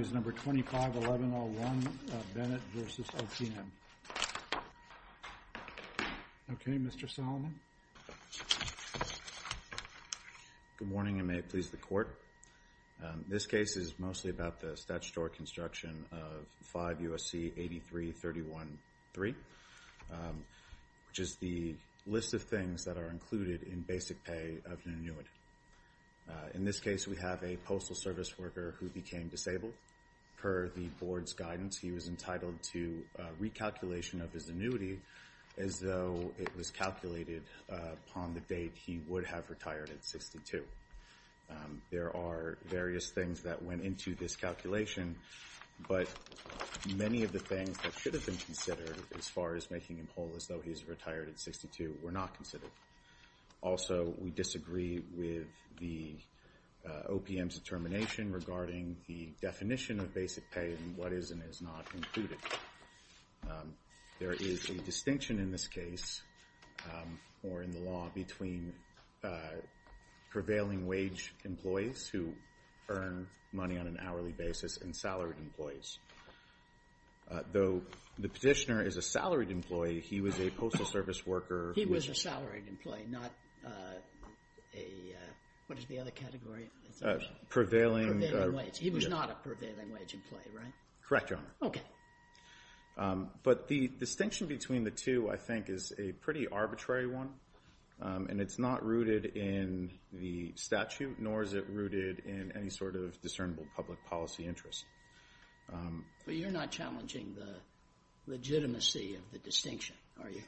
is number 251101 Bennett v. OPM. Okay, Mr. Solomon. Good morning and may it please the court. This case is mostly about the statutory construction of 5 U.S.C. 83313, which is the list of things that are included in basic pay of an annuitant. In this case, we have a postal service worker who became disabled. Per the board's guidance, he was entitled to recalculation of his annuity as though it was calculated upon the date he would have retired at 62. There are various things that went into this calculation, but many of the things that should have been considered as far as making him whole as though he's retired at 62 were not considered. Also, we disagree with the OPM's determination regarding the definition of basic pay and what is and is not included. There is a distinction in this case or in the law between prevailing wage employees who earn money on an hourly basis and salaried employees. Though the petitioner is a salaried employee, he was a postal service worker. He was a salaried employee, not a, what is the other category? Prevailing wage. He was not a prevailing wage employee, right? Correct, Your Honor. Okay. But the distinction between the two, I think, is a pretty arbitrary one, and it's not rooted in the statute nor is it rooted in any sort of discernible public policy interest. But you're not challenging the legitimacy of the distinction, are you,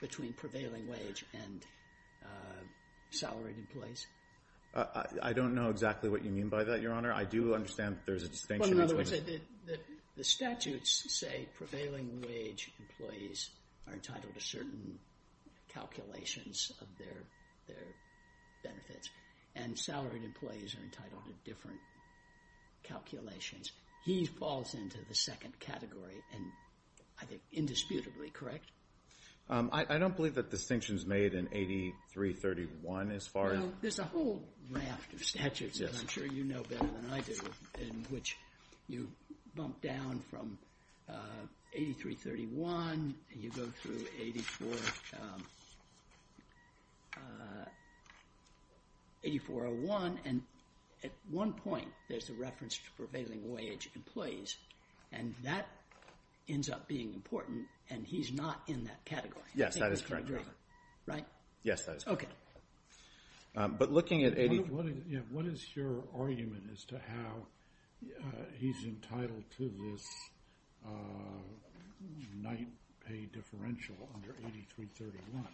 between prevailing wage and salaried employees? I don't know exactly what you mean by that, Your Honor. I do understand there's a distinction. Well, in other words, the statutes say prevailing wage employees are entitled to certain calculations of their benefits, and salaried employees are entitled to different calculations. He falls into the second category, and I think indisputably, correct? I don't believe that distinction is made in 8331 as far as... There's a whole raft of statutes, and I'm sure you know better than I do, in which you bump down from 8331 and you go through 8401, and at one point there's a reference to prevailing wage employees, and that ends up being important, and he's not in that category. Yes, that is correct, Your Honor. Right? Yes, that is correct. Okay. But looking at... What is your argument as to how he's entitled to this night pay differential under 8331?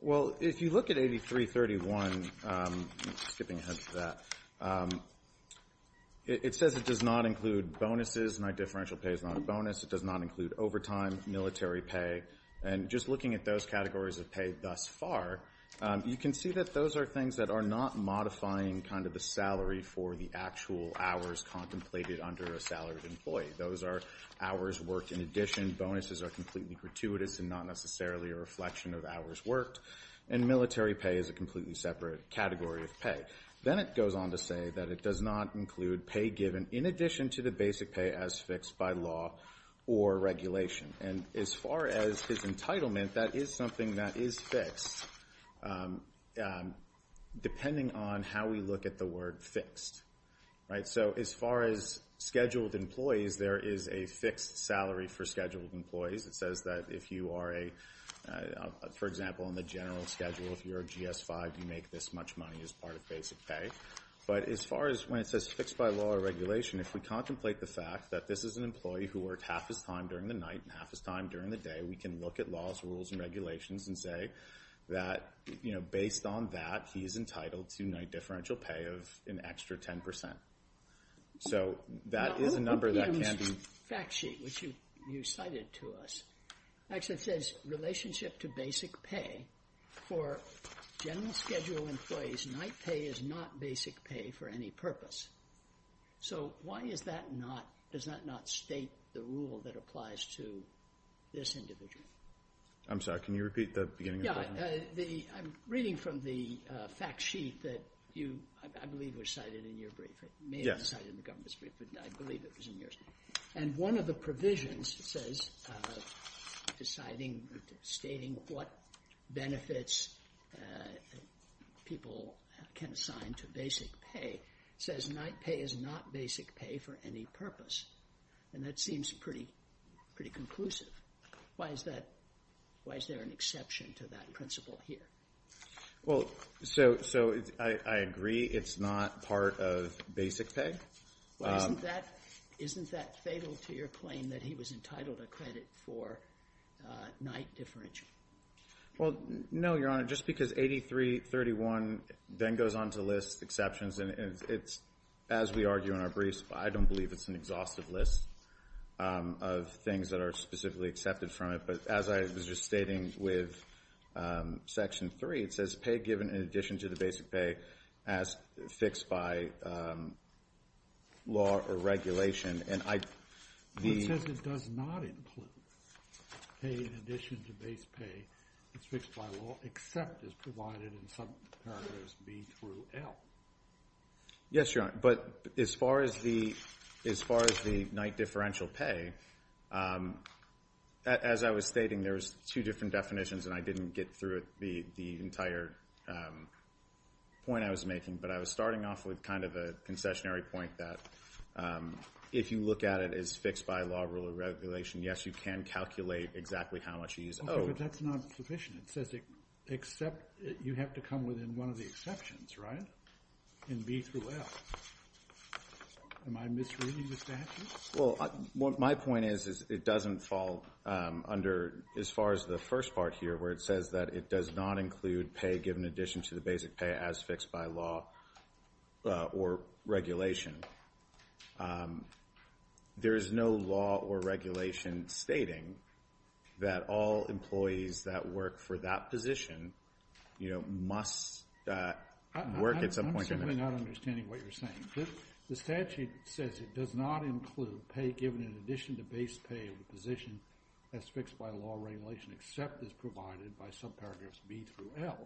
Well, if you look at 8331, skipping ahead to that, it says it does not include bonuses. Night differential pay is not a bonus. It does not include overtime, military pay, and just looking at those categories of pay thus far, you can see that those are things that are not modifying kind of the salary for the actual hours contemplated under a salaried employee. Those are hours worked in addition. Bonuses are completely gratuitous and not necessarily a reflection of hours worked, and military pay is a completely separate category of pay. Then it goes on to say that it does not include pay given in addition to the basic pay as fixed by law or regulation, and as far as his entitlement, that is something that is fixed depending on how we look at the word fixed. Right? So as far as scheduled employees, there is a fixed salary for scheduled employees. It says that if you are a... For example, in the general schedule, if you're a GS-5, you make this much money as part of basic pay. But as far as when it says fixed by law or regulation, if we contemplate the fact that this is an employee who worked half his time during the night and half his time during the day, we can look at laws, rules, and regulations and say that based on that, he is entitled to night you cited to us. Actually, it says relationship to basic pay. For general schedule employees, night pay is not basic pay for any purpose. So why is that not... Does that not state the rule that applies to this individual? I'm sorry. Can you repeat the beginning of that? Yeah. The... I'm reading from the fact sheet that you, I believe, were cited in your brief. It may have been cited in the Governor's brief, but I believe it was in yours. And one of the provisions says, deciding, stating what benefits people can assign to basic pay, says night pay is not basic pay for any purpose. And that seems pretty conclusive. Why is that... Why is there an exception to that principle here? Well, so I agree it's not part of basic pay. Isn't that fatal to your claim that he was entitled to credit for night differential? Well, no, Your Honor. Just because 8331 then goes on to list exceptions, and it's, as we argue in our briefs, I don't believe it's an exhaustive list of things that are specifically accepted from it. But as I was just stating with Section 3, it says pay given in addition to the basic pay as fixed by law or regulation. And I... It says it does not include pay in addition to basic pay as fixed by law, except as provided in some parameters, B through L. Yes, Your Honor. But as far as the night differential pay, as I was stating, there's two different definitions, and I didn't get through the entire point I was making. But I was starting off with kind of a concessionary point that if you look at it as fixed by law, rule, or regulation, yes, you can calculate exactly how much you use. Okay, but that's not sufficient. It says except... You have to come within one of the exceptions, right? In B through L. Am I misreading the statute? Well, my point is it doesn't fall under, as far as the first part here, where it says that it does not include pay given in addition to the basic pay as fixed by law or regulation. There is no law or regulation stating that all employees that work for that position, you know, must work at some point in their life. I'm simply not understanding what you're saying. The statute says it does not include pay given in addition to base pay of the position as fixed by law or regulation, except as provided by subparagraphs B through L.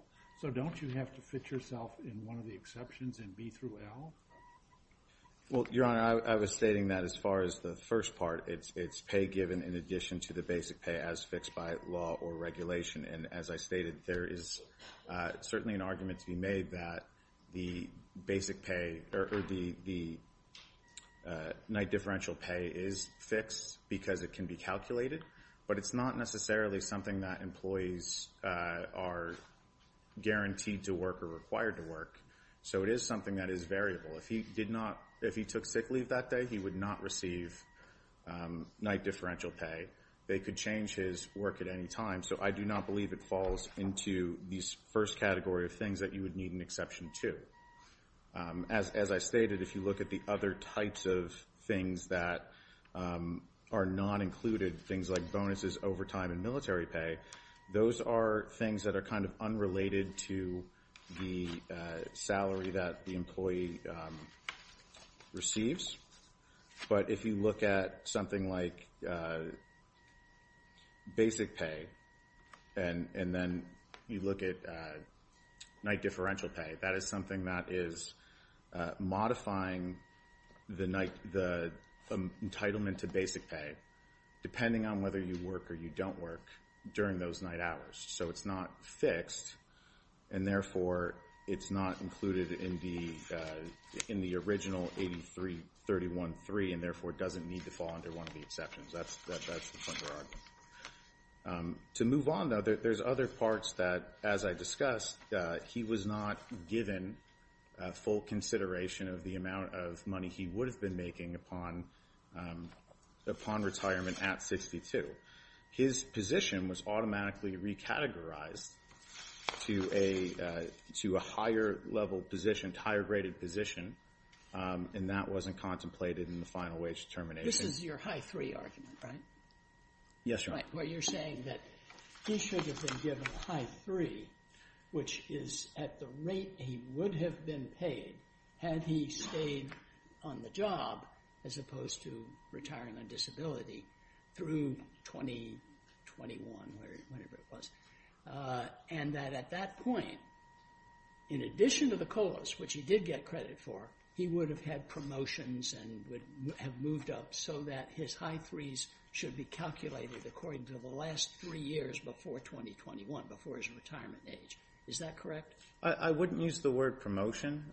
So don't you have to fit yourself in one of the exceptions in B through L? Well, Your Honor, I was stating that as far as the first part. It's pay given in addition to the basic pay as fixed by law or regulation. And as I stated, there is certainly an argument to be made that the night differential pay is fixed because it can be calculated, but it's not necessarily something that employees are guaranteed to work or required to work. So it is something that is variable. If he took sick leave that day, he would not receive night differential pay. They could change his work at any time. So I do not believe it falls into these first category of things that you would need an exception to. As I stated, if you look at the other types of things that are not included, things like bonuses, overtime, and military pay, those are things that are kind of unrelated to the salary that the employee receives. But if you look at something like basic pay and then you look at night differential pay, that is something that is modifying the entitlement to basic pay depending on whether you work or you don't work during those night hours. So it's not fixed, and therefore it's not included in the original 8331.3, and therefore it doesn't need to fall under one of the exceptions. That's the funder argument. To move on, though, there's other parts that, as I discussed, he was not given full consideration of the amount of money he would have been making upon retirement at 62. His position was automatically recategorized to a higher-level position, higher-rated position, and that wasn't contemplated in the final wage determination. This is your High 3 argument, right? Yes, Your Honor. Where you're saying that he should have been given High 3, which is at the rate he would have been paid had he stayed on the job as opposed to retiring on disability through 2021 or whenever it was, and that at that point, in addition to the COLAs, which he did get credit for, he would have had promotions and would have moved up so that his High 3s should be calculated according to the last three years before 2021, before his retirement age. Is that correct? I wouldn't use the word promotion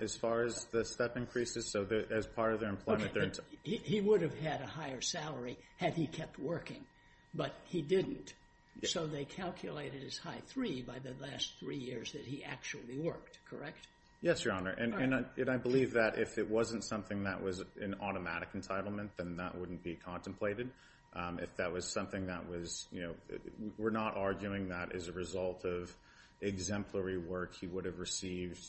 as far as the step increases, so as part of their employment. He would have had a higher salary had he kept working, but he didn't. So they calculated his High 3 by the last three years that he actually worked, correct? Yes, Your Honor, and I believe that if it wasn't something that was an automatic entitlement, then that wouldn't be contemplated. If that was something that was, you know, we're not arguing that as a result of exemplary work, he would have received,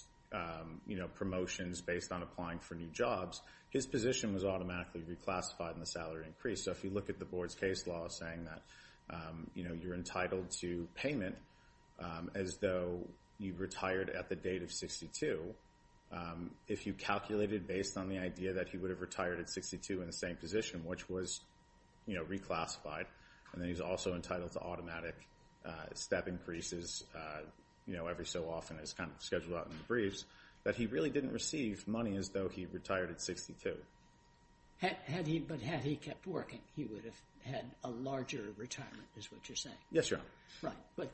you know, promotions based on applying for new jobs. His position was automatically reclassified in the salary increase. So if you look at the board's case law saying that, you know, you're entitled to payment as though you retired at the date of 62, if you calculated based on the idea that he would have retired at 62 in the same position, which was, you know, reclassified, and then he's also entitled to automatic step increases, you know, every so often as kind of scheduled out in the briefs, that he really didn't receive money as though he retired at 62. But had he kept working, he would have had a larger retirement, is what you're saying? Yes, Your Honor. Right. But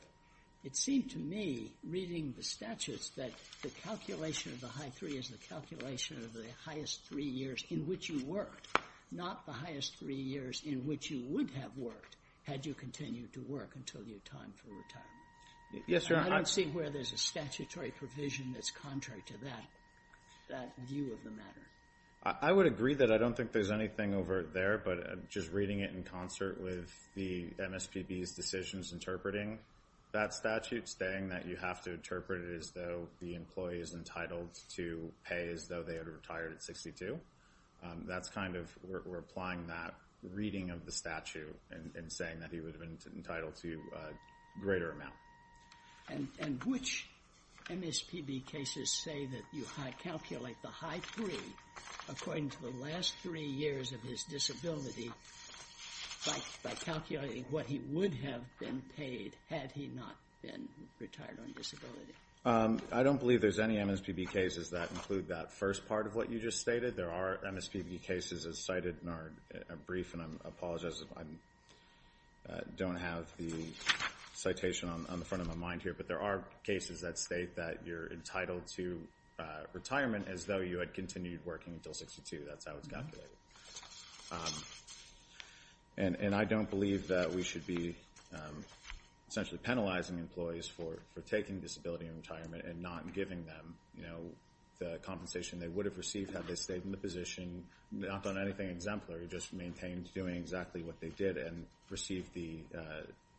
it seemed to me, reading the statutes, that the calculation of the high three is the calculation of the highest three years in which you worked, not the highest three years in which you would have worked had you continued to work until your time for retirement. Yes, Your Honor. I don't see where there's a statutory provision that's contrary to that view of the matter. I would agree that I don't think there's anything over there, but just reading it in concert with the MSPB's decisions interpreting that statute, saying that you have to interpret it as though the employee is entitled to pay as though they had retired at 62, that's kind of, we're applying that reading of the statute in saying that he would have been entitled to a greater amount. And which MSPB cases say that you calculate the high three according to the last three years of his disability by calculating what he would have been paid had he not been retired on disability? I don't believe there's any MSPB cases that include that first part of what you just stated. There are MSPB cases as cited in our brief, and I apologize if I don't have the citation on the front of my mind here, but there are cases that state that you're entitled to retirement as though you had continued working until 62. That's how it's calculated. And I don't believe that we should be essentially penalizing employees for taking disability and retirement and not giving them the compensation they would have received had they stayed in the position, not done anything exemplary, just maintained doing exactly what they did and received the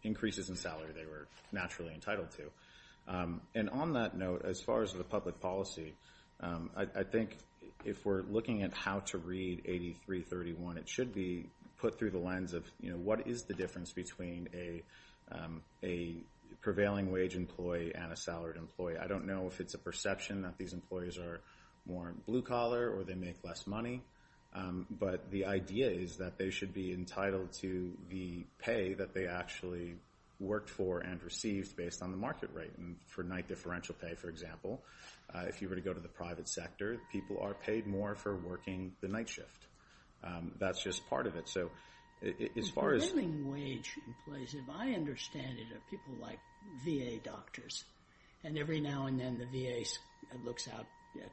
increases in salary they were naturally entitled to. And on that note, as far as the public policy, I think if we're looking at how to read 8331, it should be put through the lens of what is the difference between a prevailing wage employee and a salaried employee. I don't know if it's a perception that these employees are more blue-collar or they make less money, but the idea is that they should be entitled to the pay that they actually worked for and received based on the market rate. And for night differential pay, for example, if you were to go to the private sector, people are paid more for working the night shift. That's just part of it. The prevailing wage employees, if I understand it, are people like VA doctors, and every now and then the VA looks out at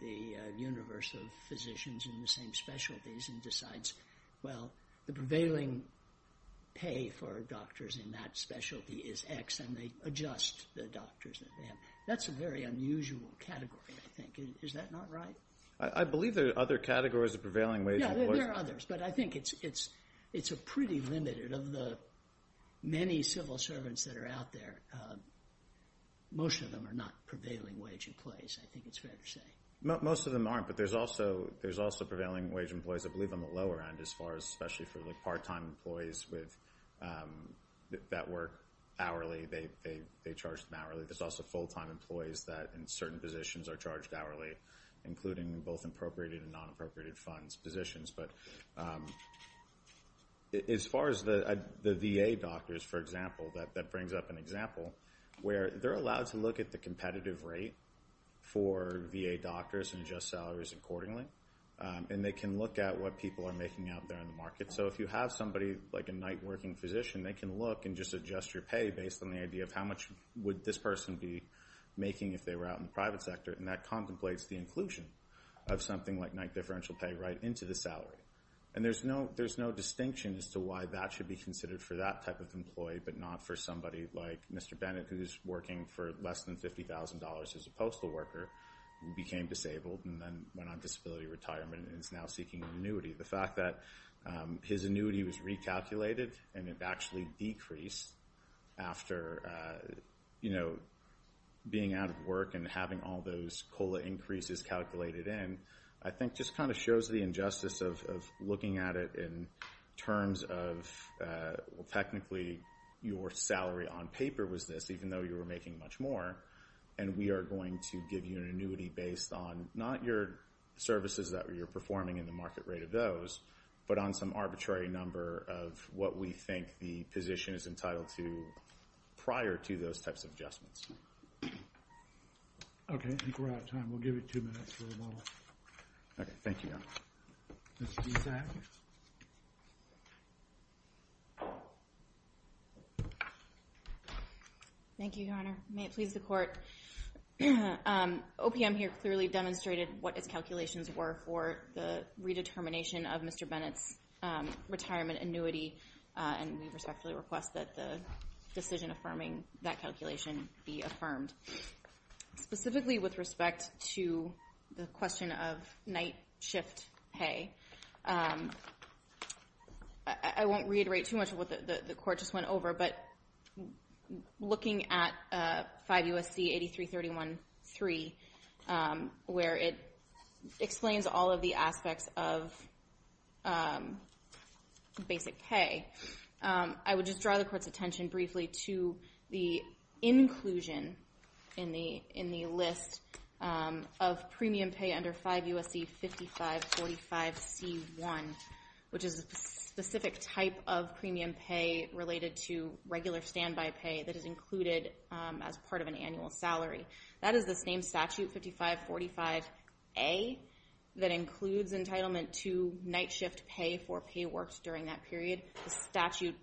the universe of physicians in the same specialties and decides, well, the prevailing pay for doctors in that specialty is X, and they adjust the doctors that they have. That's a very unusual category, I think. Is that not right? I believe there are other categories of prevailing wage employees. There are others, but I think it's pretty limited. Of the many civil servants that are out there, most of them are not prevailing wage employees, I think it's fair to say. Most of them aren't, but there's also prevailing wage employees, I believe, on the lower end, especially for the part-time employees that work hourly. They charge them hourly. There's also full-time employees that in certain positions are charged hourly, including both appropriated and non-appropriated funds positions. But as far as the VA doctors, for example, that brings up an example, where they're allowed to look at the competitive rate for VA doctors and adjust salaries accordingly, and they can look at what people are making out there in the market. So if you have somebody like a night-working physician, they can look and just adjust your pay based on the idea of how much would this person be making if they were out in the private sector, and that contemplates the inclusion of something like night differential pay right into the salary. And there's no distinction as to why that should be considered for that type of employee, but not for somebody like Mr. Bennett, who's working for less than $50,000 as a postal worker, became disabled and then went on disability retirement and is now seeking an annuity. The fact that his annuity was recalculated and it actually decreased after being out of work and having all those COLA increases calculated in, I think just kind of shows the injustice of looking at it in terms of technically your salary on paper was this, even though you were making much more, and we are going to give you an annuity based on not your services that you're performing and the market rate of those, but on some arbitrary number of what we think the position is entitled to prior to those types of adjustments. Okay. I think we're out of time. We'll give you two minutes for rebuttal. Okay. Thank you, Your Honor. Ms. Gissack. Thank you, Your Honor. May it please the Court. OPM here clearly demonstrated what its calculations were for the redetermination of Mr. Bennett's retirement annuity, and we respectfully request that the decision affirming that calculation be affirmed. Specifically with respect to the question of night shift pay, I won't reiterate too much of what the Court just went over, but looking at 5 U.S.C. 8331.3 where it explains all of the aspects of basic pay, I would just draw the Court's attention briefly to the inclusion in the list of premium pay under 5 U.S.C. 5545C.1, which is a specific type of premium pay related to regular standby pay that is included as part of an annual salary. That is the same statute, 5545A, that includes entitlement to night shift pay for pay works during that period. The statute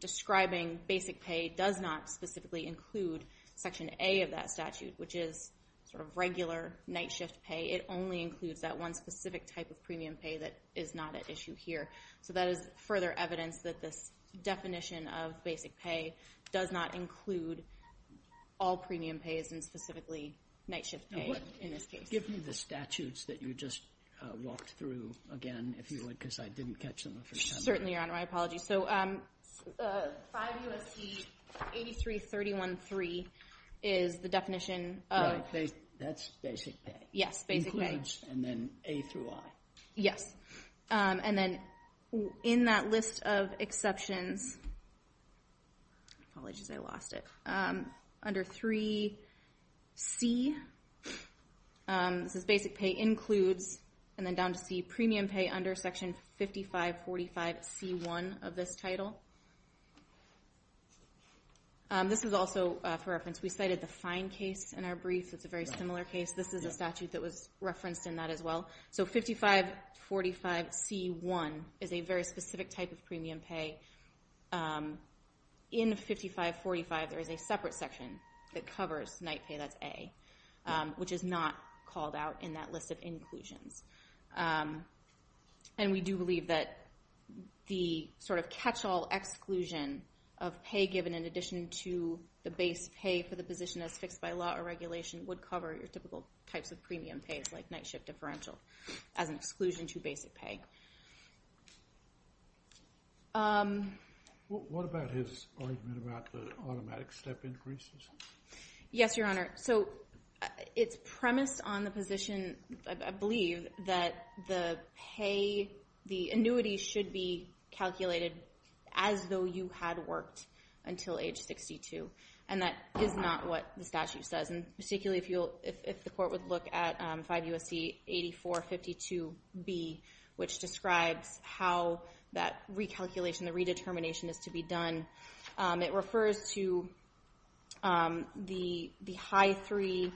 describing basic pay does not specifically include Section A of that statute, which is sort of regular night shift pay. It only includes that one specific type of premium pay that is not at issue here. So that is further evidence that this definition of basic pay does not include all premium pays and specifically night shift pay in this case. Give me the statutes that you just walked through again, if you would, because I didn't catch them the first time. Certainly, Your Honor. My apologies. So 5 U.S.C. 8331.3 is the definition of... That's basic pay. Yes, basic pay. Includes and then A through I. Yes. And then in that list of exceptions, apologies, I lost it. Under 3C, this is basic pay includes, and then down to C, premium pay under Section 5545C1 of this title. This is also for reference. We cited the fine case in our brief. It's a very similar case. This is a statute that was referenced in that as well. So 5545C1 is a very specific type of premium pay. In 5545, there is a separate section that covers night pay, that's A, which is not called out in that list of inclusions. And we do believe that the sort of catch-all exclusion of pay given in addition to the base pay for the position as fixed by law or regulation would cover your typical types of premium pays, like night shift differential, as an exclusion to basic pay. What about his argument about the automatic step increases? Yes, Your Honor. So it's premised on the position, I believe, that the pay, the annuity should be calculated as though you had worked until age 62. And that is not what the statute says, and particularly if the court would look at 5 U.S.C. 8452B, which describes how that recalculation, the redetermination is to be done. It refers to the high three,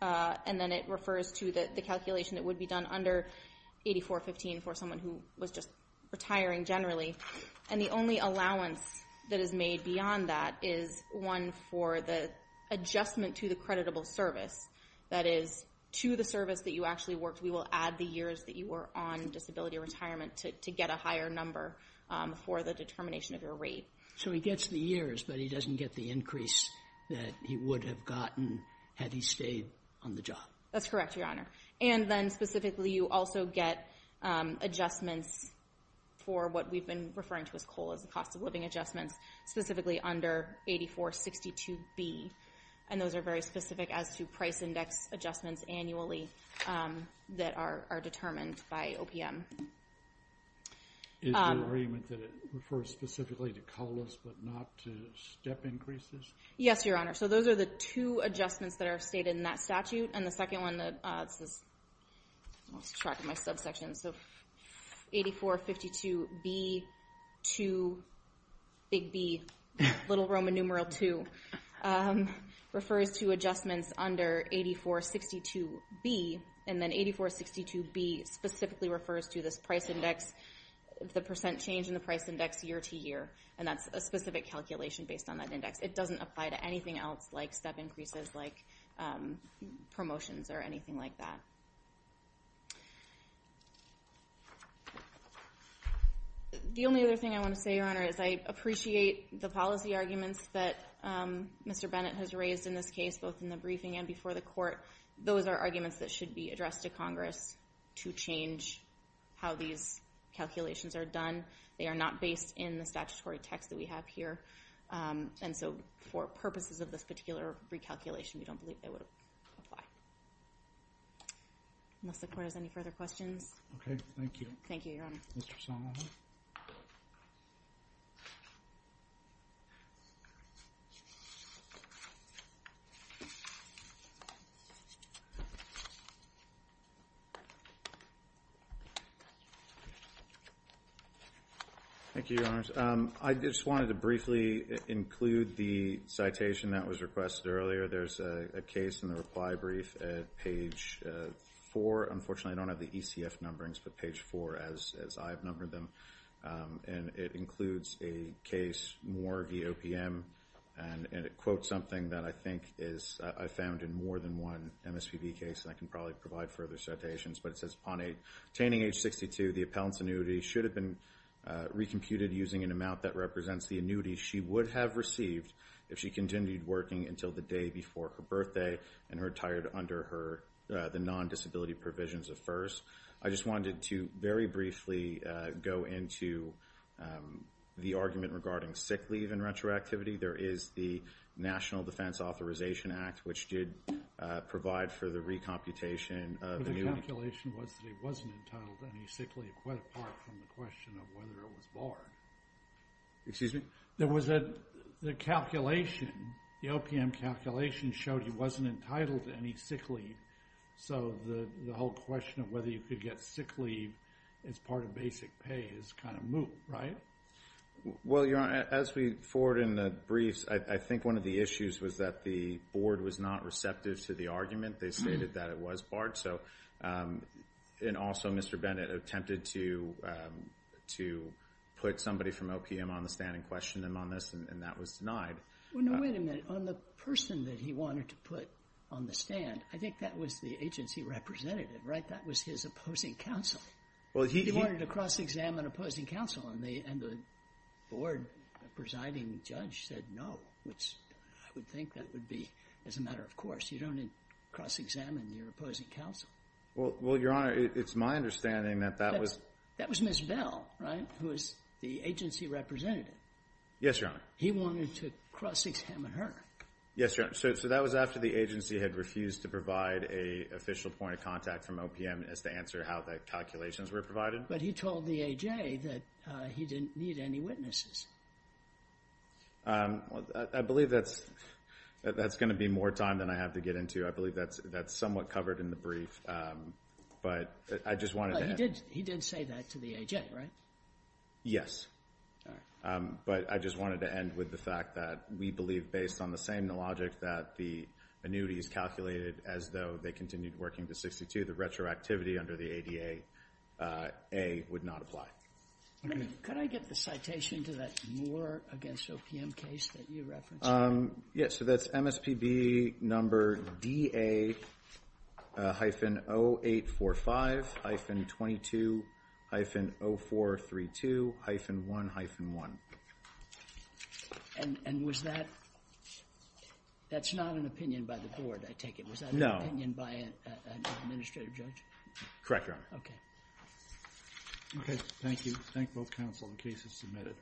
and then it refers to the calculation that would be done under 8415 for someone who was just retiring generally. And the only allowance that is made beyond that is one for the adjustment to the creditable service. That is, to the service that you actually worked, we will add the years that you were on disability retirement to get a higher number for the determination of your rate. So he gets the years, but he doesn't get the increase that he would have gotten had he stayed on the job. That's correct, Your Honor. And then specifically, you also get adjustments for what we've been referring to as COLA, as well as the cost of living adjustments, specifically under 8462B. And those are very specific as to price index adjustments annually that are determined by OPM. Is the agreement that it refers specifically to COLA, but not to step increases? Yes, Your Honor. So those are the two adjustments that are stated in that statute. And the second one, I lost track of my subsection, so 8452B, 2, big B, little Roman numeral 2, refers to adjustments under 8462B, and then 8462B specifically refers to this price index, the percent change in the price index year to year, and that's a specific calculation based on that index. It doesn't apply to anything else like step increases, like promotions or anything like that. The only other thing I want to say, Your Honor, is I appreciate the policy arguments that Mr. Bennett has raised in this case, both in the briefing and before the court. Those are arguments that should be addressed to Congress to change how these calculations are done. They are not based in the statutory text that we have here. And so for purposes of this particular recalculation, we don't believe they would apply. Unless the court has any further questions. Okay, thank you. Thank you, Your Honor. Mr. Salamone. Thank you, Your Honors. I just wanted to briefly include the citation that was requested earlier. There's a case in the reply brief at page 4. Unfortunately, I don't have the ECF numberings, but page 4, as I've numbered them. And it includes a case, Moore v. OPM, and it quotes something that I think I found in more than one MSPB case, and I can probably provide further citations, but it says, upon attaining age 62, the appellant's annuity should have been recomputed using an amount that represents the annuity she would have received if she continued working until the day before her birthday and retired under the non-disability provisions of FERS. I just wanted to very briefly go into the argument regarding sick leave and retroactivity. There is the National Defense Authorization Act, which did provide for the recomputation of annuity. The calculation was that he wasn't entitled to any sick leave, quite apart from the question of whether it was barred. Excuse me? There was a calculation. The OPM calculation showed he wasn't entitled to any sick leave, so the whole question of whether you could get sick leave as part of basic pay is kind of moot, right? Well, Your Honor, as we forward in the briefs, I think one of the issues was that the board was not receptive to the argument. They stated that it was barred, and also Mr. Bennett attempted to put somebody from OPM on the stand and question him on this, and that was denied. Well, no, wait a minute. On the person that he wanted to put on the stand, I think that was the agency representative, right? That was his opposing counsel. He wanted to cross-examine opposing counsel, and the board presiding judge said no, which I would think that would be as a matter of course. You don't cross-examine your opposing counsel. Well, Your Honor, it's my understanding that that was Ms. Bell, right, who was the agency representative. Yes, Your Honor. He wanted to cross-examine her. Yes, Your Honor. So that was after the agency had refused to provide an official point of contact from OPM as to answer how the calculations were provided? But he told the AJ that he didn't need any witnesses. I believe that's going to be more time than I have to get into. I believe that's somewhat covered in the brief, but I just wanted to end. He did say that to the AJ, right? Yes. All right. But I just wanted to end with the fact that we believe based on the same logic that the annuities calculated as though they continued working to 62, the retroactivity under the ADA would not apply. Could I get the citation to that Moore against OPM case that you referenced? Yes, so that's MSPB number DA-0845-22-0432-1-1. And was that, that's not an opinion by the board, I take it. Was that an opinion by an administrative judge? Correct, Your Honor. Okay. Okay, thank you. Thank both counsel. The case is submitted.